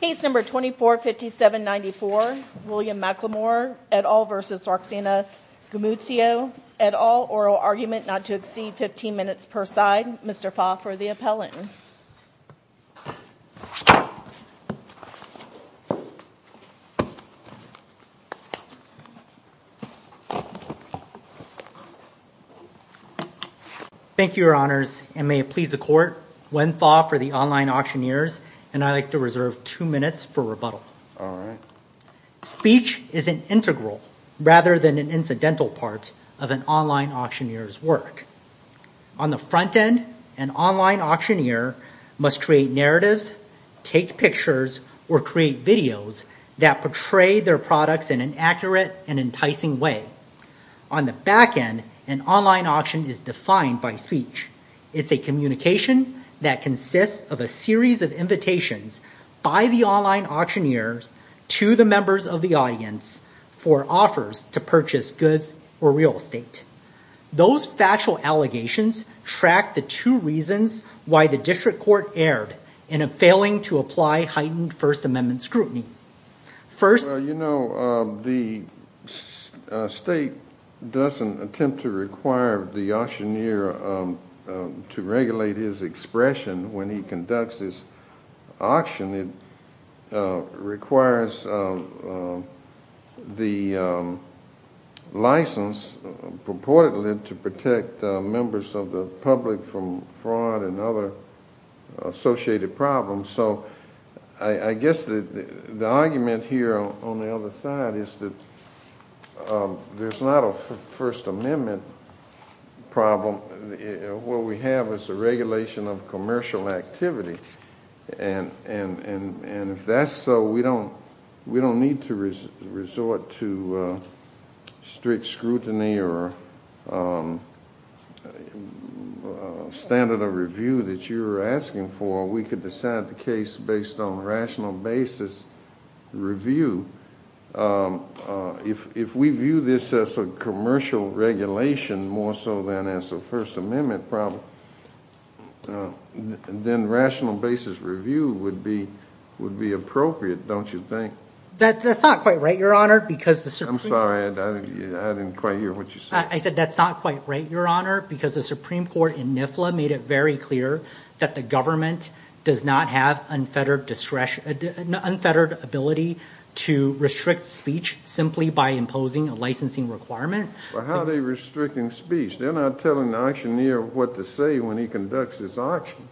Case No. 245794, William McLemore et al. v. Roxanna Gumucio et al. Oral argument not to exceed 15 minutes per side. Mr. Fah for the appellant. Thank you, Your Honors. And may it please the Court, Wen Fah for the online auctioneers and I'd like to reserve two minutes for rebuttal. All right. Speech is an integral rather than an incidental part of an online auctioneer's work. On the front end, an online auctioneer must create narratives, take pictures, or create videos that portray their products in an accurate and enticing way. On the back end, an online auction is defined by speech. It's a communication that consists of a series of invitations by the online auctioneers to the members of the audience for offers to purchase goods or real estate. Those factual allegations track the two reasons why the District Court erred in a failing to apply heightened First Amendment scrutiny. First... Well, you know, the state doesn't attempt to require the auctioneer to regulate his expression when he conducts his auction. It requires the license purportedly to protect members of the public from fraud and other associated problems. So I guess the argument here on the other side is that there's not a First Amendment problem. What we have is a regulation of commercial activity. And if that's so, we don't need to resort to strict scrutiny or standard of review that you're asking for. We could decide the case based on rational basis review. If we view this as a commercial regulation more so than as a First Amendment problem, then rational basis review would be appropriate, don't you think? That's not quite right, Your Honor. I'm sorry, I didn't quite hear what you said. I said that's not quite right, Your Honor, because the Supreme Court in NIFLA made it very clear that the government does not have unfettered discretion, unfettered ability to restrict speech simply by imposing a licensing requirement. But how are they restricting speech? They're not telling the auctioneer what to say when he conducts his auction.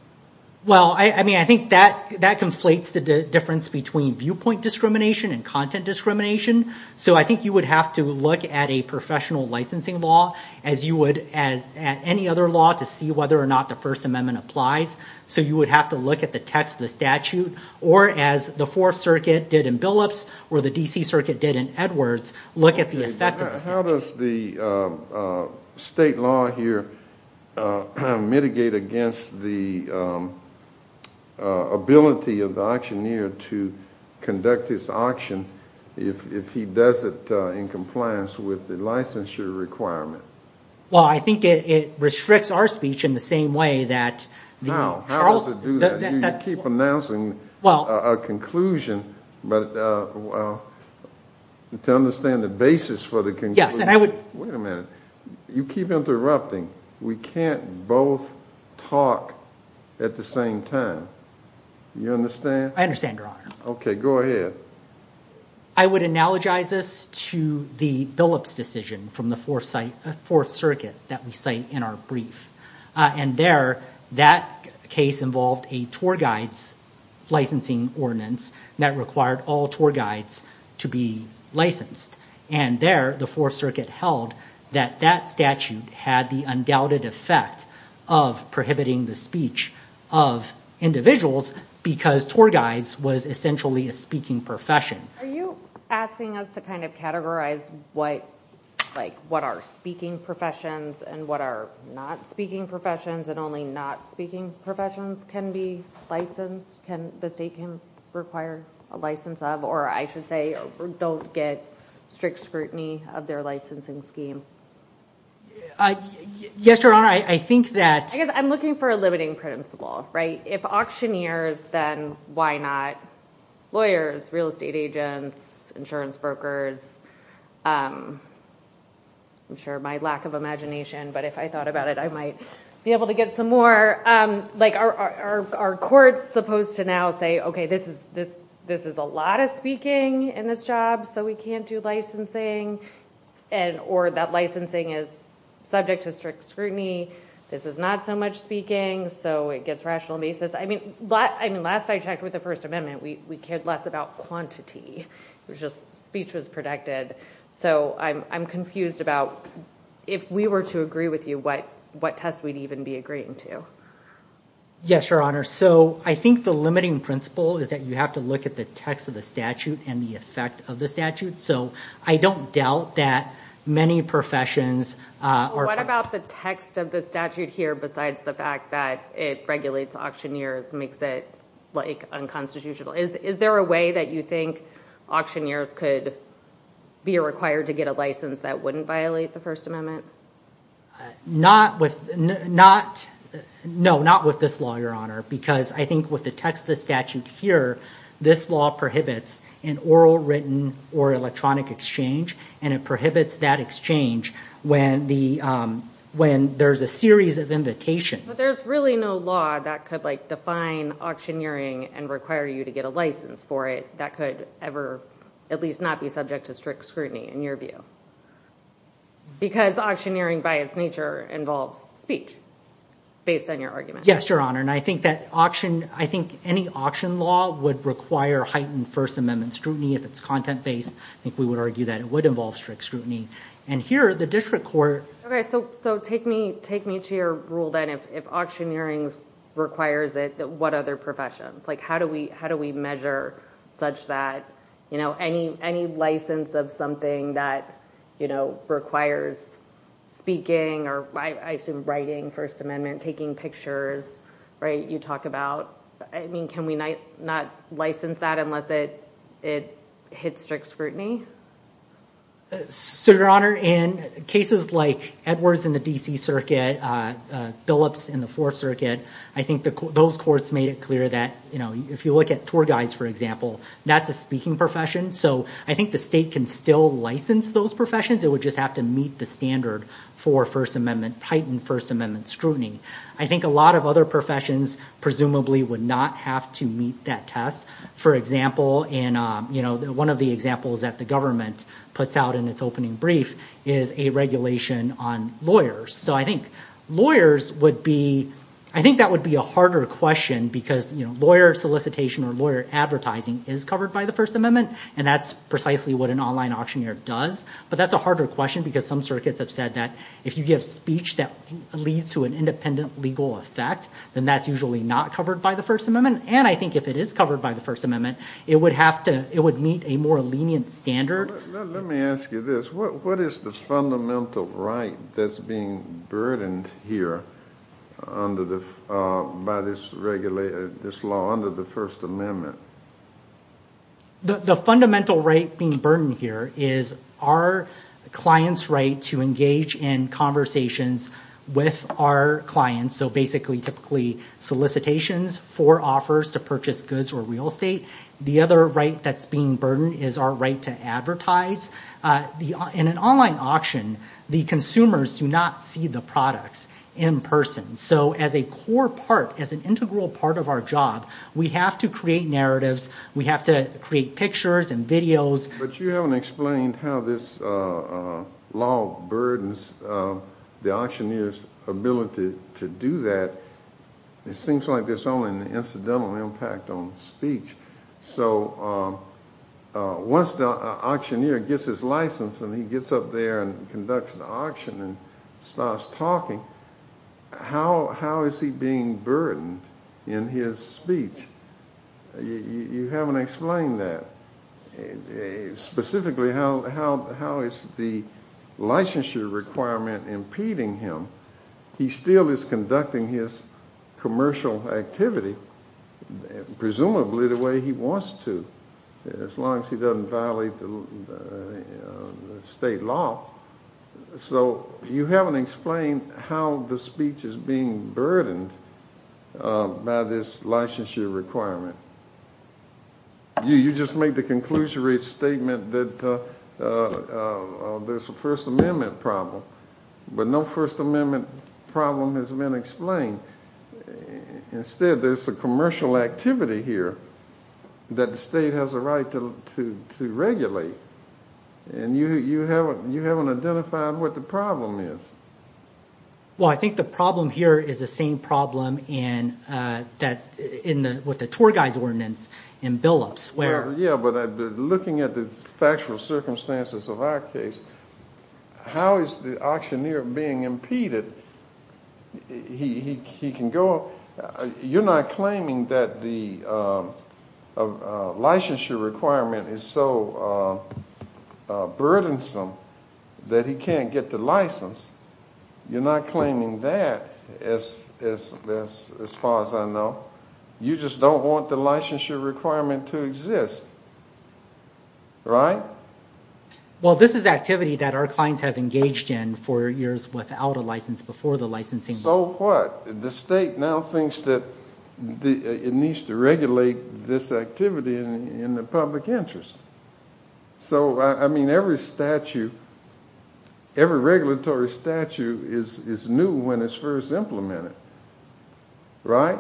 Well, I mean, I think that that conflates the difference between viewpoint discrimination and content discrimination. So I think you would have to look at a professional licensing law as you would as any other law to see whether or not the First Amendment applies. So you would have to look at the text of the statute, or as the Fourth Circuit did in Billups, or the D.C. Circuit did in Edwards, look at the effect of the statute. How does the state law here mitigate against the ability of the auctioneer to conduct his auction if he does it in compliance with the licensure requirement? Well, I think it restricts our speech in the same way that... No, how does it do that? You keep announcing a conclusion, but to understand the basis for the conclusion... Yes, and I would... Wait a minute. You keep interrupting. We can't both talk at the same time. You understand? I understand, Your Honor. Okay, go ahead. I would analogize this to the Billups decision from the Fourth Circuit that we cite in our brief. And there, that case involved a tour guide's licensing ordinance that required all tour guides to be licensed. And there, the Fourth Circuit held that that statute had the undoubted effect of prohibiting the speech of individuals because tour guides was essentially a speaking profession. Are you asking us to kind of categorize what are speaking professions and what are not speaking professions and only not speaking professions can be licensed, the state can require a license of, or I should say, don't get strict scrutiny of their licensing scheme? Yes, Your Honor, I think that... I guess I'm looking for a limiting principle, right? If auctioneers, then why not lawyers, real estate agents, insurance brokers? I'm sure my lack of imagination, but if I thought about it, I might be able to get some more. Are courts supposed to now say, okay, this is a lot of speaking in this job, so we can't do licensing, or that licensing is subject to strict scrutiny. This is not so much speaking, so it gets rational basis. I mean, last I checked with the First Amendment, we cared less about quantity. It was just speech was protected. So I'm confused about if we were to agree with you, what test we'd even be agreeing to. Yes, Your Honor, so I think the limiting principle is that you have to look at the text of the statute and the effect of the statute, so I don't doubt that many professions are... What about the text of the statute here, besides the fact that it regulates auctioneers, makes it unconstitutional? Is there a way that you think auctioneers could be required to get a license that wouldn't violate the First Amendment? Not with this law, Your Honor, because I think with the text of the statute here, this law prohibits an oral, written, or electronic exchange, and it prohibits that exchange when there's a series of invitations. But there's really no law that could define auctioneering and require you to get a license for it that could ever at least not be subject to strict scrutiny, in your view, because auctioneering by its nature involves speech, based on your argument. Yes, Your Honor, and I think any auction law would require heightened First Amendment scrutiny if it's content based. I think we would argue that it would involve strict scrutiny. And here, the district court... Okay, so take me to your rule then, if auctioneering requires it, what other professions? Like, how do we measure such that, you know, any license of something that, you know, requires speaking or, I assume, writing First Amendment, taking pictures, right? You talk about... I mean, can we not license that unless it hits strict scrutiny? So, Your Honor, in cases like Edwards in the D.C. Circuit, Billups in the Fourth Circuit, I think those courts made it clear that, you know, if you look at tour guides, for example, that's a speaking profession. So I think the state can still license those professions. It would just have to meet the standard for First Amendment, heightened First Amendment scrutiny. I think a lot of other professions, presumably, would not have to meet that test. For example, in, you know, one of the examples that the government puts out in its opening brief is a regulation on lawyers. So I think lawyers would be... I think that would be a harder question because, you know, lawyer solicitation or lawyer advertising is covered by the First Amendment, and that's precisely what an online auctioneer does. But that's a harder question because some circuits have said that if you give speech that leads to an independent legal effect, then that's usually not covered by the First Amendment. And I think if it is covered by the First Amendment, it would have to... it would meet a more lenient standard. Let me ask you this. What is the fundamental right that's being burdened here under the... by this law, under the First Amendment? The fundamental right being burdened here is our clients' right to engage in conversations with our clients. So basically, typically solicitations for offers to purchase goods or real estate. The other right that's being burdened is our right to advertise. In an online auction, the consumers do not see the products in person. So as a core part, as an integral part of our job, we have to create narratives. We have to create pictures and videos. But you haven't explained how this law burdens the auctioneer's ability to do that. It seems like there's only an incidental impact on speech. So once the auctioneer gets his license and he gets up there and conducts the auction and starts talking, how is he being burdened in his speech? You haven't explained that. Specifically, how is the licensure requirement impeding him? He still is conducting his commercial activity, presumably the way he wants to, as long as he doesn't violate the state law. So you haven't explained how the speech is being burdened by this licensure requirement. You just made the conclusionary statement that there's a First Amendment problem. But no First Amendment problem has been explained. Instead, there's a commercial activity here that the state has a right to regulate. And you haven't identified what the problem is. Well, I think the problem here is the same problem with the tour guide's ordinance in Billups. Well, yeah, but looking at the factual circumstances of our case, how is the auctioneer being impeded? You're not claiming that the licensure requirement is so burdensome that he can't get the license. You're not claiming that, as far as I know. You just don't want the licensure requirement to exist. Right? Well, this is activity that our clients have engaged in for years without a license, before the licensing. So what? The state now thinks that it needs to regulate this activity in the public interest. So, I mean, every statute, every regulatory statute is new when it's first implemented. Right?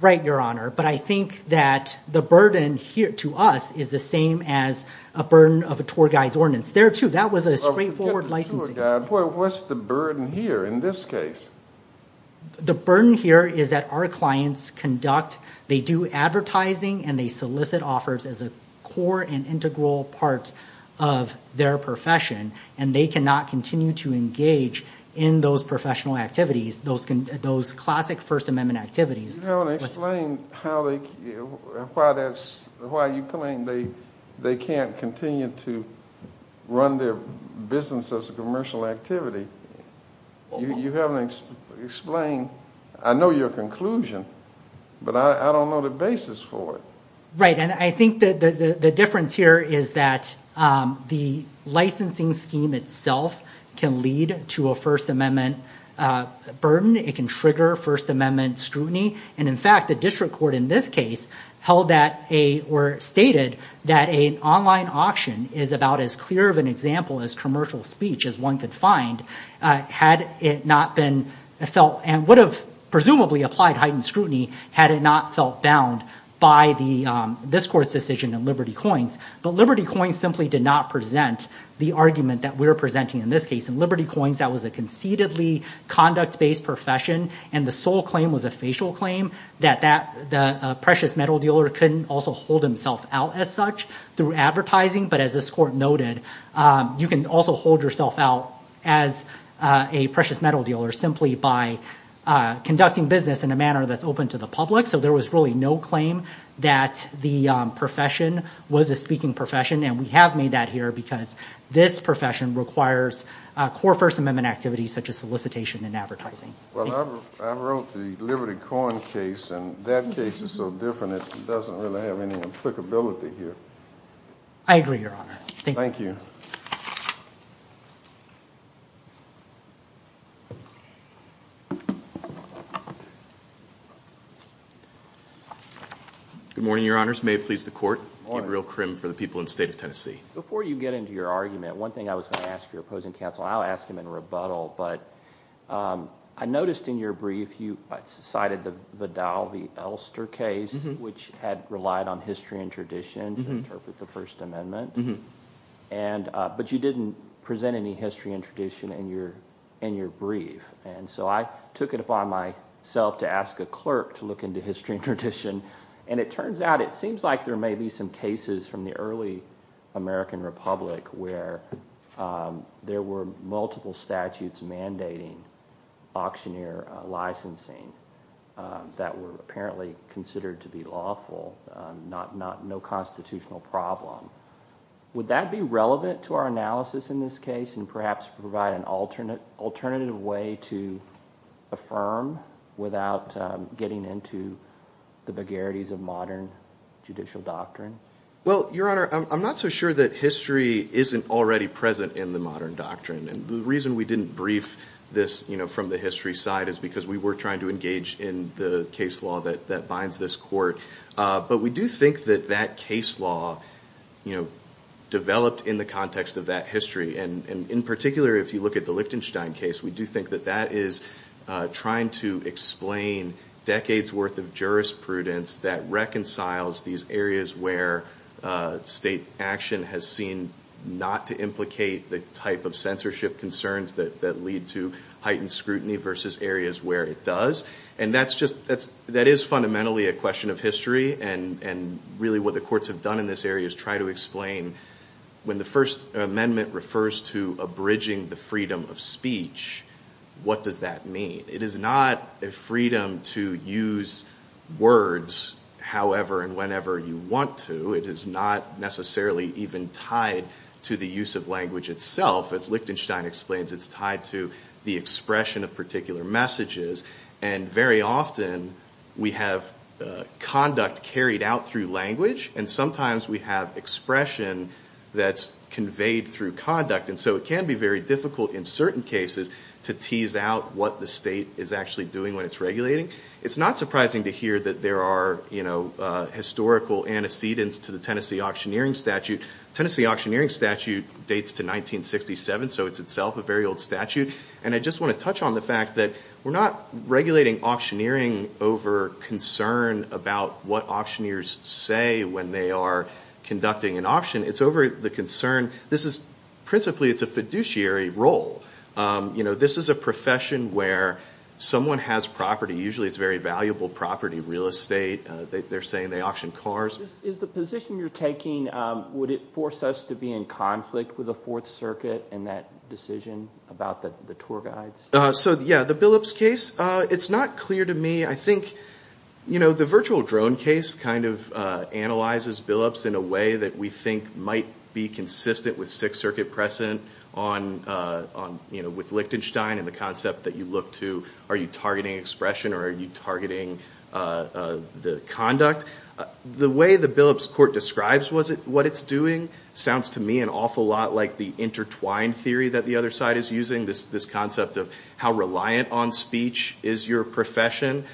Right, Your Honor. But I think that the burden here to us is the same as a burden of a tour guide's ordinance. There too, that was a straightforward licensing. What's the burden here in this case? The burden here is that our clients conduct, they do advertising, and they solicit offers as a core and integral part of their profession, and they cannot continue to engage in those professional activities, those classic First Amendment activities. Your Honor, explain why you claim they can't continue to run their business as a commercial activity. You haven't explained. I know your conclusion, but I don't know the basis for it. Right, and I think that the difference here is that the licensing scheme itself can lead to a First Amendment burden. It can trigger First Amendment scrutiny. And in fact, the district court in this case held that, or stated that an online auction is about as clear of an example as commercial speech as one could find had it not been felt and would have presumably applied heightened scrutiny had it not felt bound by this court's decision in Liberty Coins. But Liberty Coins simply did not present the argument that we're presenting in this case. In Liberty Coins, that was a concededly conduct-based profession, and the sole claim was a facial claim that the precious metal dealer couldn't also hold himself out as such through advertising, but as this court noted, you can also hold yourself out as a precious metal dealer simply by conducting business in a manner that's open to the public. So there was really no claim that the profession was a speaking profession, and we have made that here because this profession requires core First Amendment activities such as solicitation and advertising. Well, I wrote the Liberty Coins case, and that case is so different, it doesn't really have any applicability here. I agree, Your Honor. Thank you. Good morning, Your Honors. May it please the Court. I'm Edril Krim for the people in the state of Tennessee. Before you get into your argument, one thing I was going to ask for your opposing counsel, I'll ask him in rebuttal, but I noticed in your brief you cited the Vidal v. Elster case, which had relied on history and tradition to interpret the First Amendment, but you didn't present any history and tradition in your brief, and so I took it upon myself to ask a clerk to look into history and tradition, and it turns out it seems like there may be some cases from the early American Republic where there were multiple statutes mandating auctioneer licensing that were apparently considered to be lawful, no constitutional problem. Would that be relevant to our analysis in this case and perhaps provide an alternative way to affirm without getting into the vagarities of modern judicial doctrine? Well, Your Honor, I'm not so sure that history isn't already present in the modern doctrine, and the reason we didn't brief this from the history side is because we were trying to engage in the case law that binds this court, but we do think that that case law developed in the context of that history, and in particular, if you look at the Lichtenstein case, we do think that that is trying to explain decades worth of jurisprudence that reconciles these areas where state action has seen not to implicate the type of censorship concerns that lead to heightened scrutiny versus areas where it does, and that is fundamentally a question of history, and really what the courts have done in this area is try to explain when the First Amendment refers to abridging the freedom of speech, what does that mean? It is not a freedom to use words however and whenever you want to. It is not necessarily even tied to the use of language itself, as Lichtenstein explains, it's tied to the expression of particular messages, and very often we have conduct carried out through language, and sometimes we have expression that's conveyed through conduct, and so it can be very difficult in certain cases to tease out what the state is actually doing when it's regulating. It's not surprising to hear that there are historical antecedents to the Tennessee Auctioneering Statute. Tennessee Auctioneering Statute dates to 1967, so it's itself a very old statute, and I just want to touch on the fact that we're not regulating auctioneering over concern about what auctioneers say when they are conducting an auction. It's over the concern, this is principally, it's a fiduciary role, you know, this is a profession where someone has property, usually it's very valuable property, real estate, they're saying they auction cars. Is the position you're taking, would it force us to be in conflict with the Fourth Circuit in that decision about the tour guides? So yeah, the Billups case, it's not clear to me. I think, you know, the virtual drone case kind of analyzes Billups in a way that we think might be consistent with Sixth Circuit precedent on, you know, with Lichtenstein and the concept that you look to, are you targeting expression or are you targeting the conduct? The way the Billups court describes what it's doing sounds to me an awful lot like the intertwined theory that the other side is using, this concept of how reliant on speech is your profession.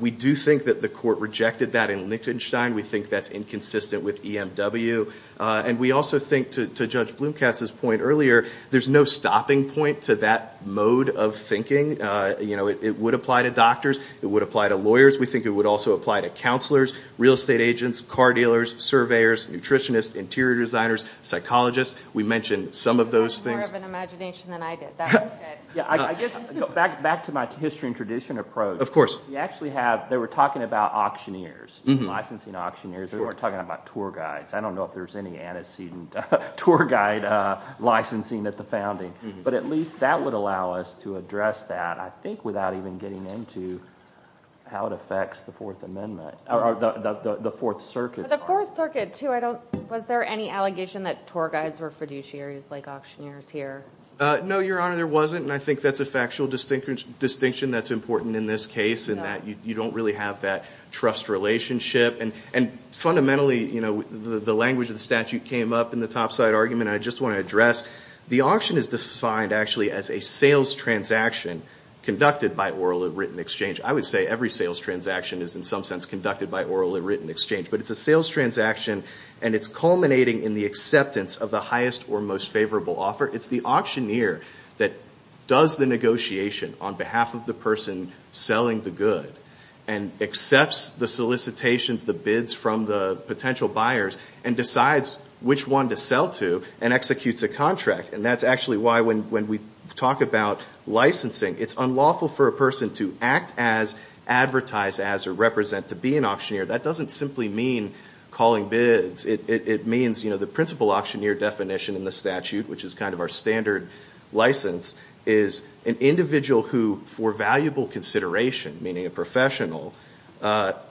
We do think that the court rejected that in Lichtenstein. We think that's inconsistent with EMW, and we also think to Judge Blumkatz's point earlier, there's no stopping point to that mode of thinking, you know, it would apply to doctors, it would apply to lawyers. We think it would also apply to counselors, real estate agents, car dealers, surveyors, nutritionists, interior designers, psychologists. We mentioned some of those things. That was more of an imagination than I did. That was good. Yeah, I guess back to my history and tradition approach. Of course. We actually have, they were talking about auctioneers, licensing auctioneers, they were talking about tour guides. I don't know if there's any antecedent tour guide licensing at the founding, but at least that would allow us to address that, I think, without even getting into how it affects the Fourth Circuit. The Fourth Circuit, too, was there any allegation that tour guides were fiduciaries like auctioneers here? No, Your Honor, there wasn't, and I think that's a factual distinction that's important in this case, and that you don't really have that trust relationship. And fundamentally, you know, the language of the statute came up in the topside argument I just want to address. The auction is defined, actually, as a sales transaction conducted by oral or written exchange. I would say every sales transaction is in some sense conducted by oral or written exchange, but it's a sales transaction, and it's culminating in the acceptance of the highest or most favorable offer. It's the auctioneer that does the negotiation on behalf of the person selling the good, and accepts the solicitations, the bids from the potential buyers, and decides which one to sell to, and executes a contract. And that's actually why when we talk about licensing, it's unlawful for a person to act as, advertise as, or represent to be an auctioneer. That doesn't simply mean calling bids. It means, you know, the principal auctioneer definition in the statute, which is kind of our standard license, is an individual who, for valuable consideration, meaning a professional,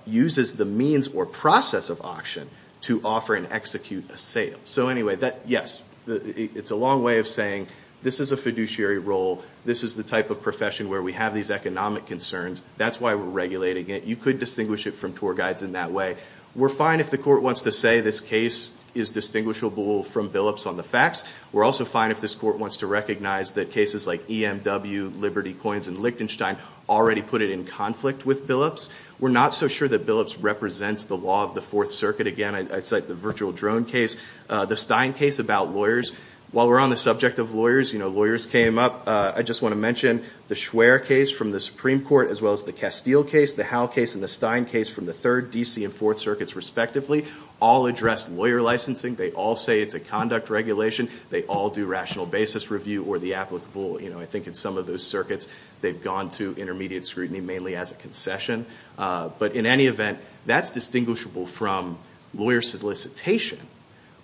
uses the means or process of auction to offer and execute a sale. So anyway, yes, it's a long way of saying this is a fiduciary role, this is the type of profession where we have these economic concerns, that's why we're regulating it. You could distinguish it from tour guides in that way. We're fine if the court wants to say this case is distinguishable from Billups on the facts. We're also fine if this court wants to recognize that cases like EMW, Liberty Coins, and Lichtenstein already put it in conflict with Billups. We're not so sure that Billups represents the law of the Fourth Circuit. Again, I cite the Virtual Drone case, the Stein case about lawyers. While we're on the subject of lawyers, you know, lawyers came up, I just want to mention the Schwer case from the Supreme Court, as well as the Castile case, the Howell case, and the Stein case from the Third, DC, and Fourth Circuits, respectively, all addressed lawyer licensing. They all say it's a conduct regulation. They all do rational basis review or the applicable, you know, I think in some of those circuits, they've gone to intermediate scrutiny, mainly as a concession. But in any event, that's distinguishable from lawyer solicitation,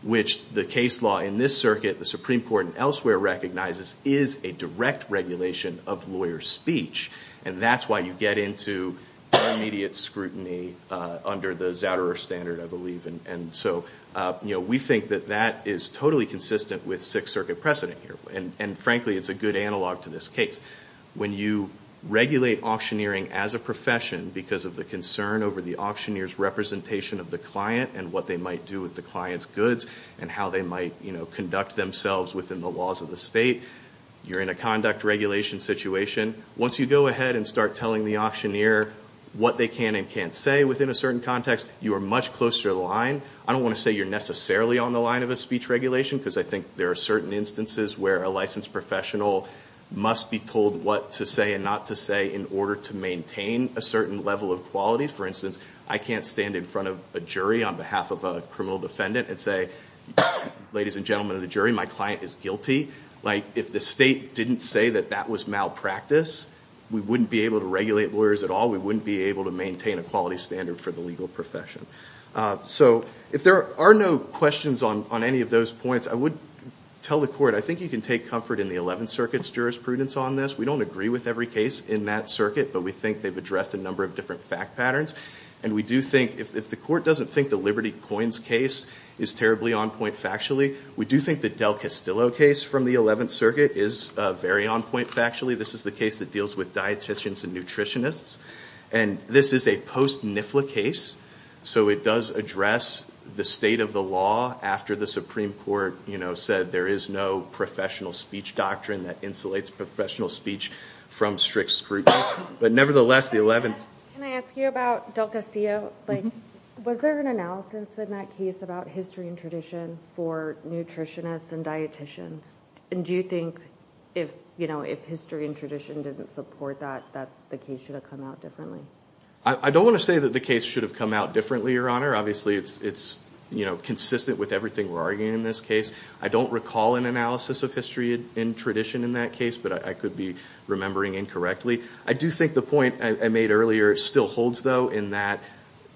which the case law in this circuit, the Supreme Court, and elsewhere recognizes is a direct regulation of lawyer speech. And that's why you get into intermediate scrutiny under the Zouderer standard, I believe. And so, you know, we think that that is totally consistent with Sixth Circuit precedent here. And frankly, it's a good analog to this case. When you regulate auctioneering as a profession, because of the concern over the auctioneer's representation of the client, and what they might do with the client's goods, and how they might, you know, conduct themselves within the laws of the state, you're in a conduct regulation situation. Once you go ahead and start telling the auctioneer what they can and can't say within a certain context, you are much closer to the line. I don't want to say you're necessarily on the line of a speech regulation, because I think there are certain instances where a licensed professional must be told what to say and not to say in order to maintain a certain level of quality. For instance, I can't stand in front of a jury on behalf of a criminal defendant and say, ladies and gentlemen of the jury, my client is guilty. Like, if the state didn't say that that was malpractice, we wouldn't be able to regulate lawyers at all. We wouldn't be able to maintain a quality standard for the legal profession. So, if there are no questions on any of those points, I would tell the court, I think you can take comfort in the 11th Circuit's jurisprudence on this. We don't agree with every case in that circuit, but we think they've addressed a number of different fact patterns, and we do think, if the court doesn't think the Liberty Coins case is terribly on point factually, we do think the Del Castillo case from the 11th Circuit is very on point factually. This is the case that deals with dietitians and nutritionists, and this is a post-NIFLA case, so it does address the state of the law after the Supreme Court said there is no professional speech doctrine that insulates professional speech from strict scrutiny. But nevertheless, the 11th... Can I ask you about Del Castillo? Was there an analysis in that case about history and tradition for nutritionists and dietitians? And do you think, if history and tradition didn't support that, that the case should have come out differently? I don't want to say that the case should have come out differently, Your Honor. Obviously, it's consistent with everything we're arguing in this case. I don't recall an analysis of history and tradition in that case, but I could be remembering incorrectly. I do think the point I made earlier still holds, though, in that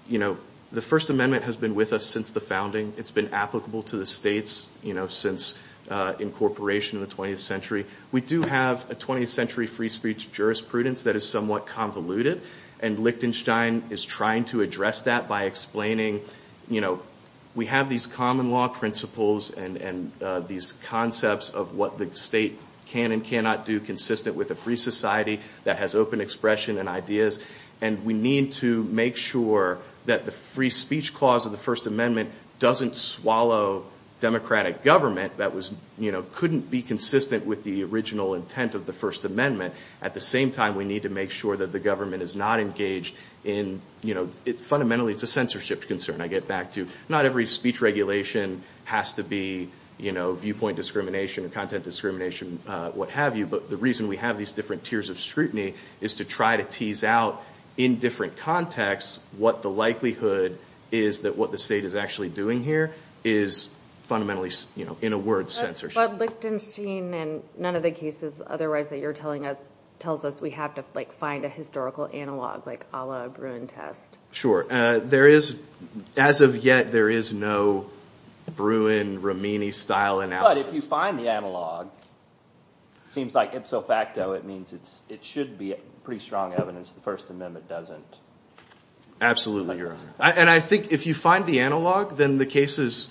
the First Amendment has been with us since the founding. It's been applicable to the states since incorporation in the 20th century. We do have a 20th century free speech jurisprudence that is somewhat convoluted, and Lichtenstein is trying to address that by explaining, you know, we have these common law principles and these concepts of what the state can and cannot do consistent with a free society that has open expression and ideas, and we need to make sure that the free speech clause of the First Amendment doesn't swallow democratic government that couldn't be consistent with the original intent of the First Amendment. At the same time, we need to make sure that the First Amendment is not engaged in, you know, fundamentally it's a censorship concern, I get back to. Not every speech regulation has to be, you know, viewpoint discrimination or content discrimination, what have you, but the reason we have these different tiers of scrutiny is to try to tease out in different contexts what the likelihood is that what the state is actually doing here is fundamentally, you know, in a word, censorship. But Lichtenstein, in none of the cases otherwise that you're telling us, tells us we have to, like, a historical analog, like a la Bruin test. Sure, there is, as of yet, there is no Bruin, Romini-style analysis. But if you find the analog, seems like ipso facto, it means it should be pretty strong evidence the First Amendment doesn't. Absolutely, Your Honor. And I think if you find the analog, then the cases,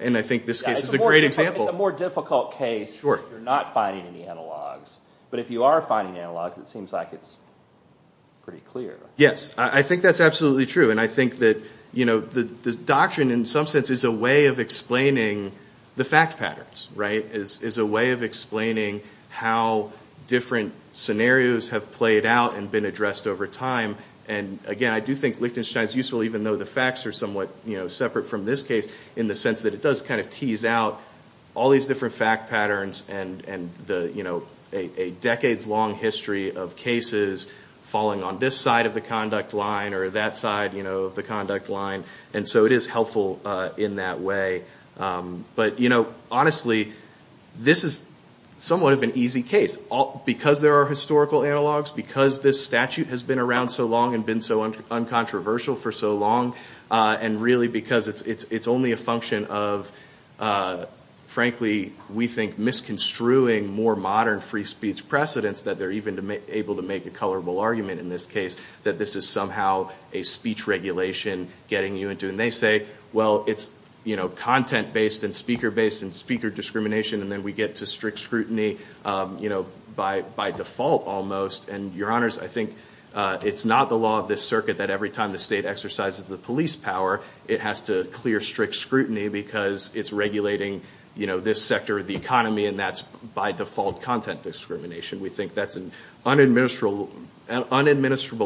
and I think this case is a great example. It's a more difficult case if you're not finding any analogs, but if you are finding analogs, it seems like it's pretty clear. Yes, I think that's absolutely true. And I think that, you know, the doctrine, in some sense, is a way of explaining the fact patterns, right? Is a way of explaining how different scenarios have played out and been addressed over time. And again, I do think Lichtenstein's useful, even though the facts are somewhat, you know, separate from this case, in the sense that it does kind of tease out all these different fact patterns and, you know, a decades-long history of cases falling on this side of the conduct line or that side, you know, of the conduct line. And so it is helpful in that way. But, you know, honestly, this is somewhat of an easy case. Because there are historical analogs, because this statute has been around so long and been so uncontroversial for so long, and really because it's only a function of, frankly, we think, misconstruing more modern free speech precedents that they're even able to make a colorable argument in this case, that this is somehow a speech regulation getting you into. And they say, well, it's, you know, content-based and speaker-based and speaker discrimination, and then we get to strict scrutiny, you know, by default, almost. And, your honors, I think it's not the law of this circuit that every time the state exercises the police power, it has to clear strict scrutiny because it's regulating, you know, this sector of the economy, and that's, by default, content discrimination. We think that's an unadministrable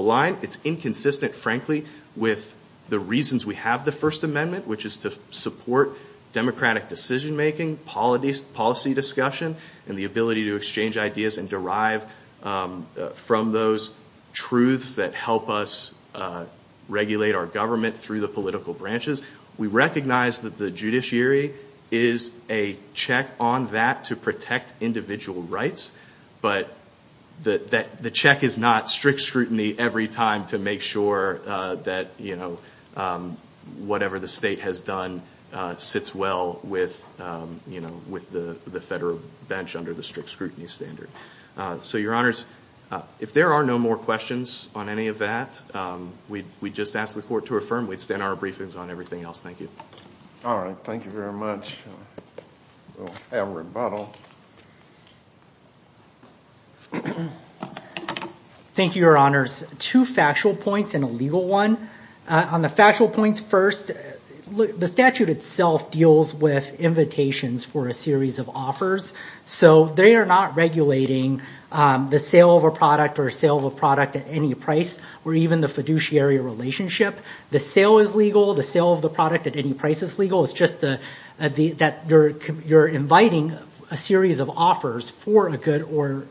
line. It's inconsistent, frankly, with the reasons we have the First Amendment, which is to support democratic decision-making, policy discussion, and the ability to exchange ideas and derive from those truths that help us regulate our government through the political branches. We recognize that the judiciary is a check on that to protect individual rights, but the check is not strict scrutiny every time to make sure that, you know, whatever the state has done sits well with, you know, with the federal bench under the strict scrutiny standard. So, your honors, if there are no more questions on any of that, we'd just ask the court to affirm. We'd stand our briefings on everything else. Thank you. All right, thank you very much. We'll have rebuttal. Thank you, your honors. Two factual points and a legal one. On the factual points first, the statute itself deals with invitations for a series of offers, so they are not regulating the sale of a product or sale of a product at any price or even the fiduciary relationship. The sale is legal. The sale of the product at any price is legal. It's just that you're inviting a series of offers for a good or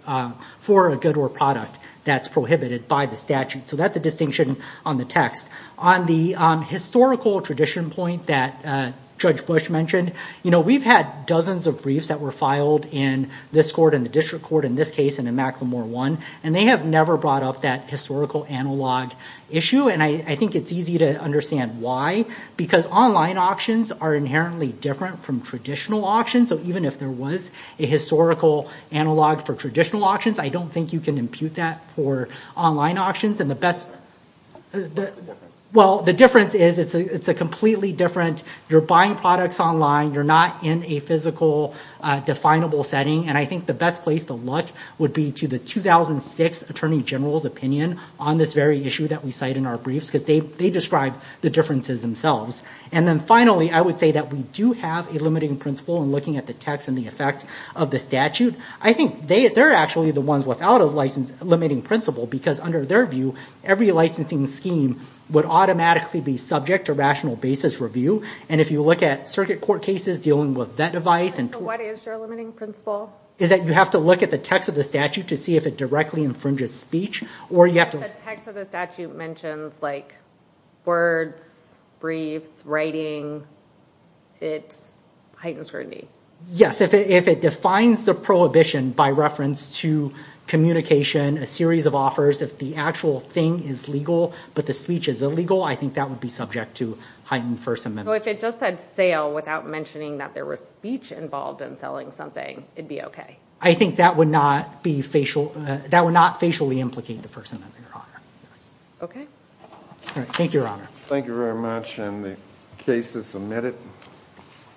for a good or product that's prohibited by the statute. So, that's a distinction on the text. On the historical tradition point that Judge Bush mentioned, you know, we've had dozens of briefs that were filed in this court and the district court in this case and in Macklemore One, and they have never brought up that historical analog issue, and I think it's easy to understand why, because online auctions are inherently different from traditional auctions. So, even if there was a historical analog for traditional auctions, I don't think you can impute that for online auctions. And the best... Well, the difference is it's a completely different... You're buying products online. You're not in a physical definable setting. And I think the best place to look would be to the 2006 Attorney General's opinion on this very issue that we cite in our briefs, because they describe the differences themselves. And then finally, I would say that we do have a limiting principle in looking at the text and the effect of the statute. I think they're actually the ones without a limiting principle, because under their view, every licensing scheme would automatically be subject to rational basis review. And if you look at circuit court cases dealing with that device and... What is your limiting principle? Is that you have to look at the text of the statute to see if it directly infringes speech or you have to... If the text of the statute mentions like words, briefs, writing, it's heightened scrutiny. Yes, if it defines the prohibition by reference to communication, a series of offers, if the actual thing is legal, but the speech is illegal, I think that would be subject to heightened First Amendment. But if it just said sale without mentioning that there was speech involved in selling something, it'd be okay. I think that would not be facial... That would not facially implicate the First Amendment, Your Honor. Okay. All right. Thank you, Your Honor. Thank you very much. And the case is submitted.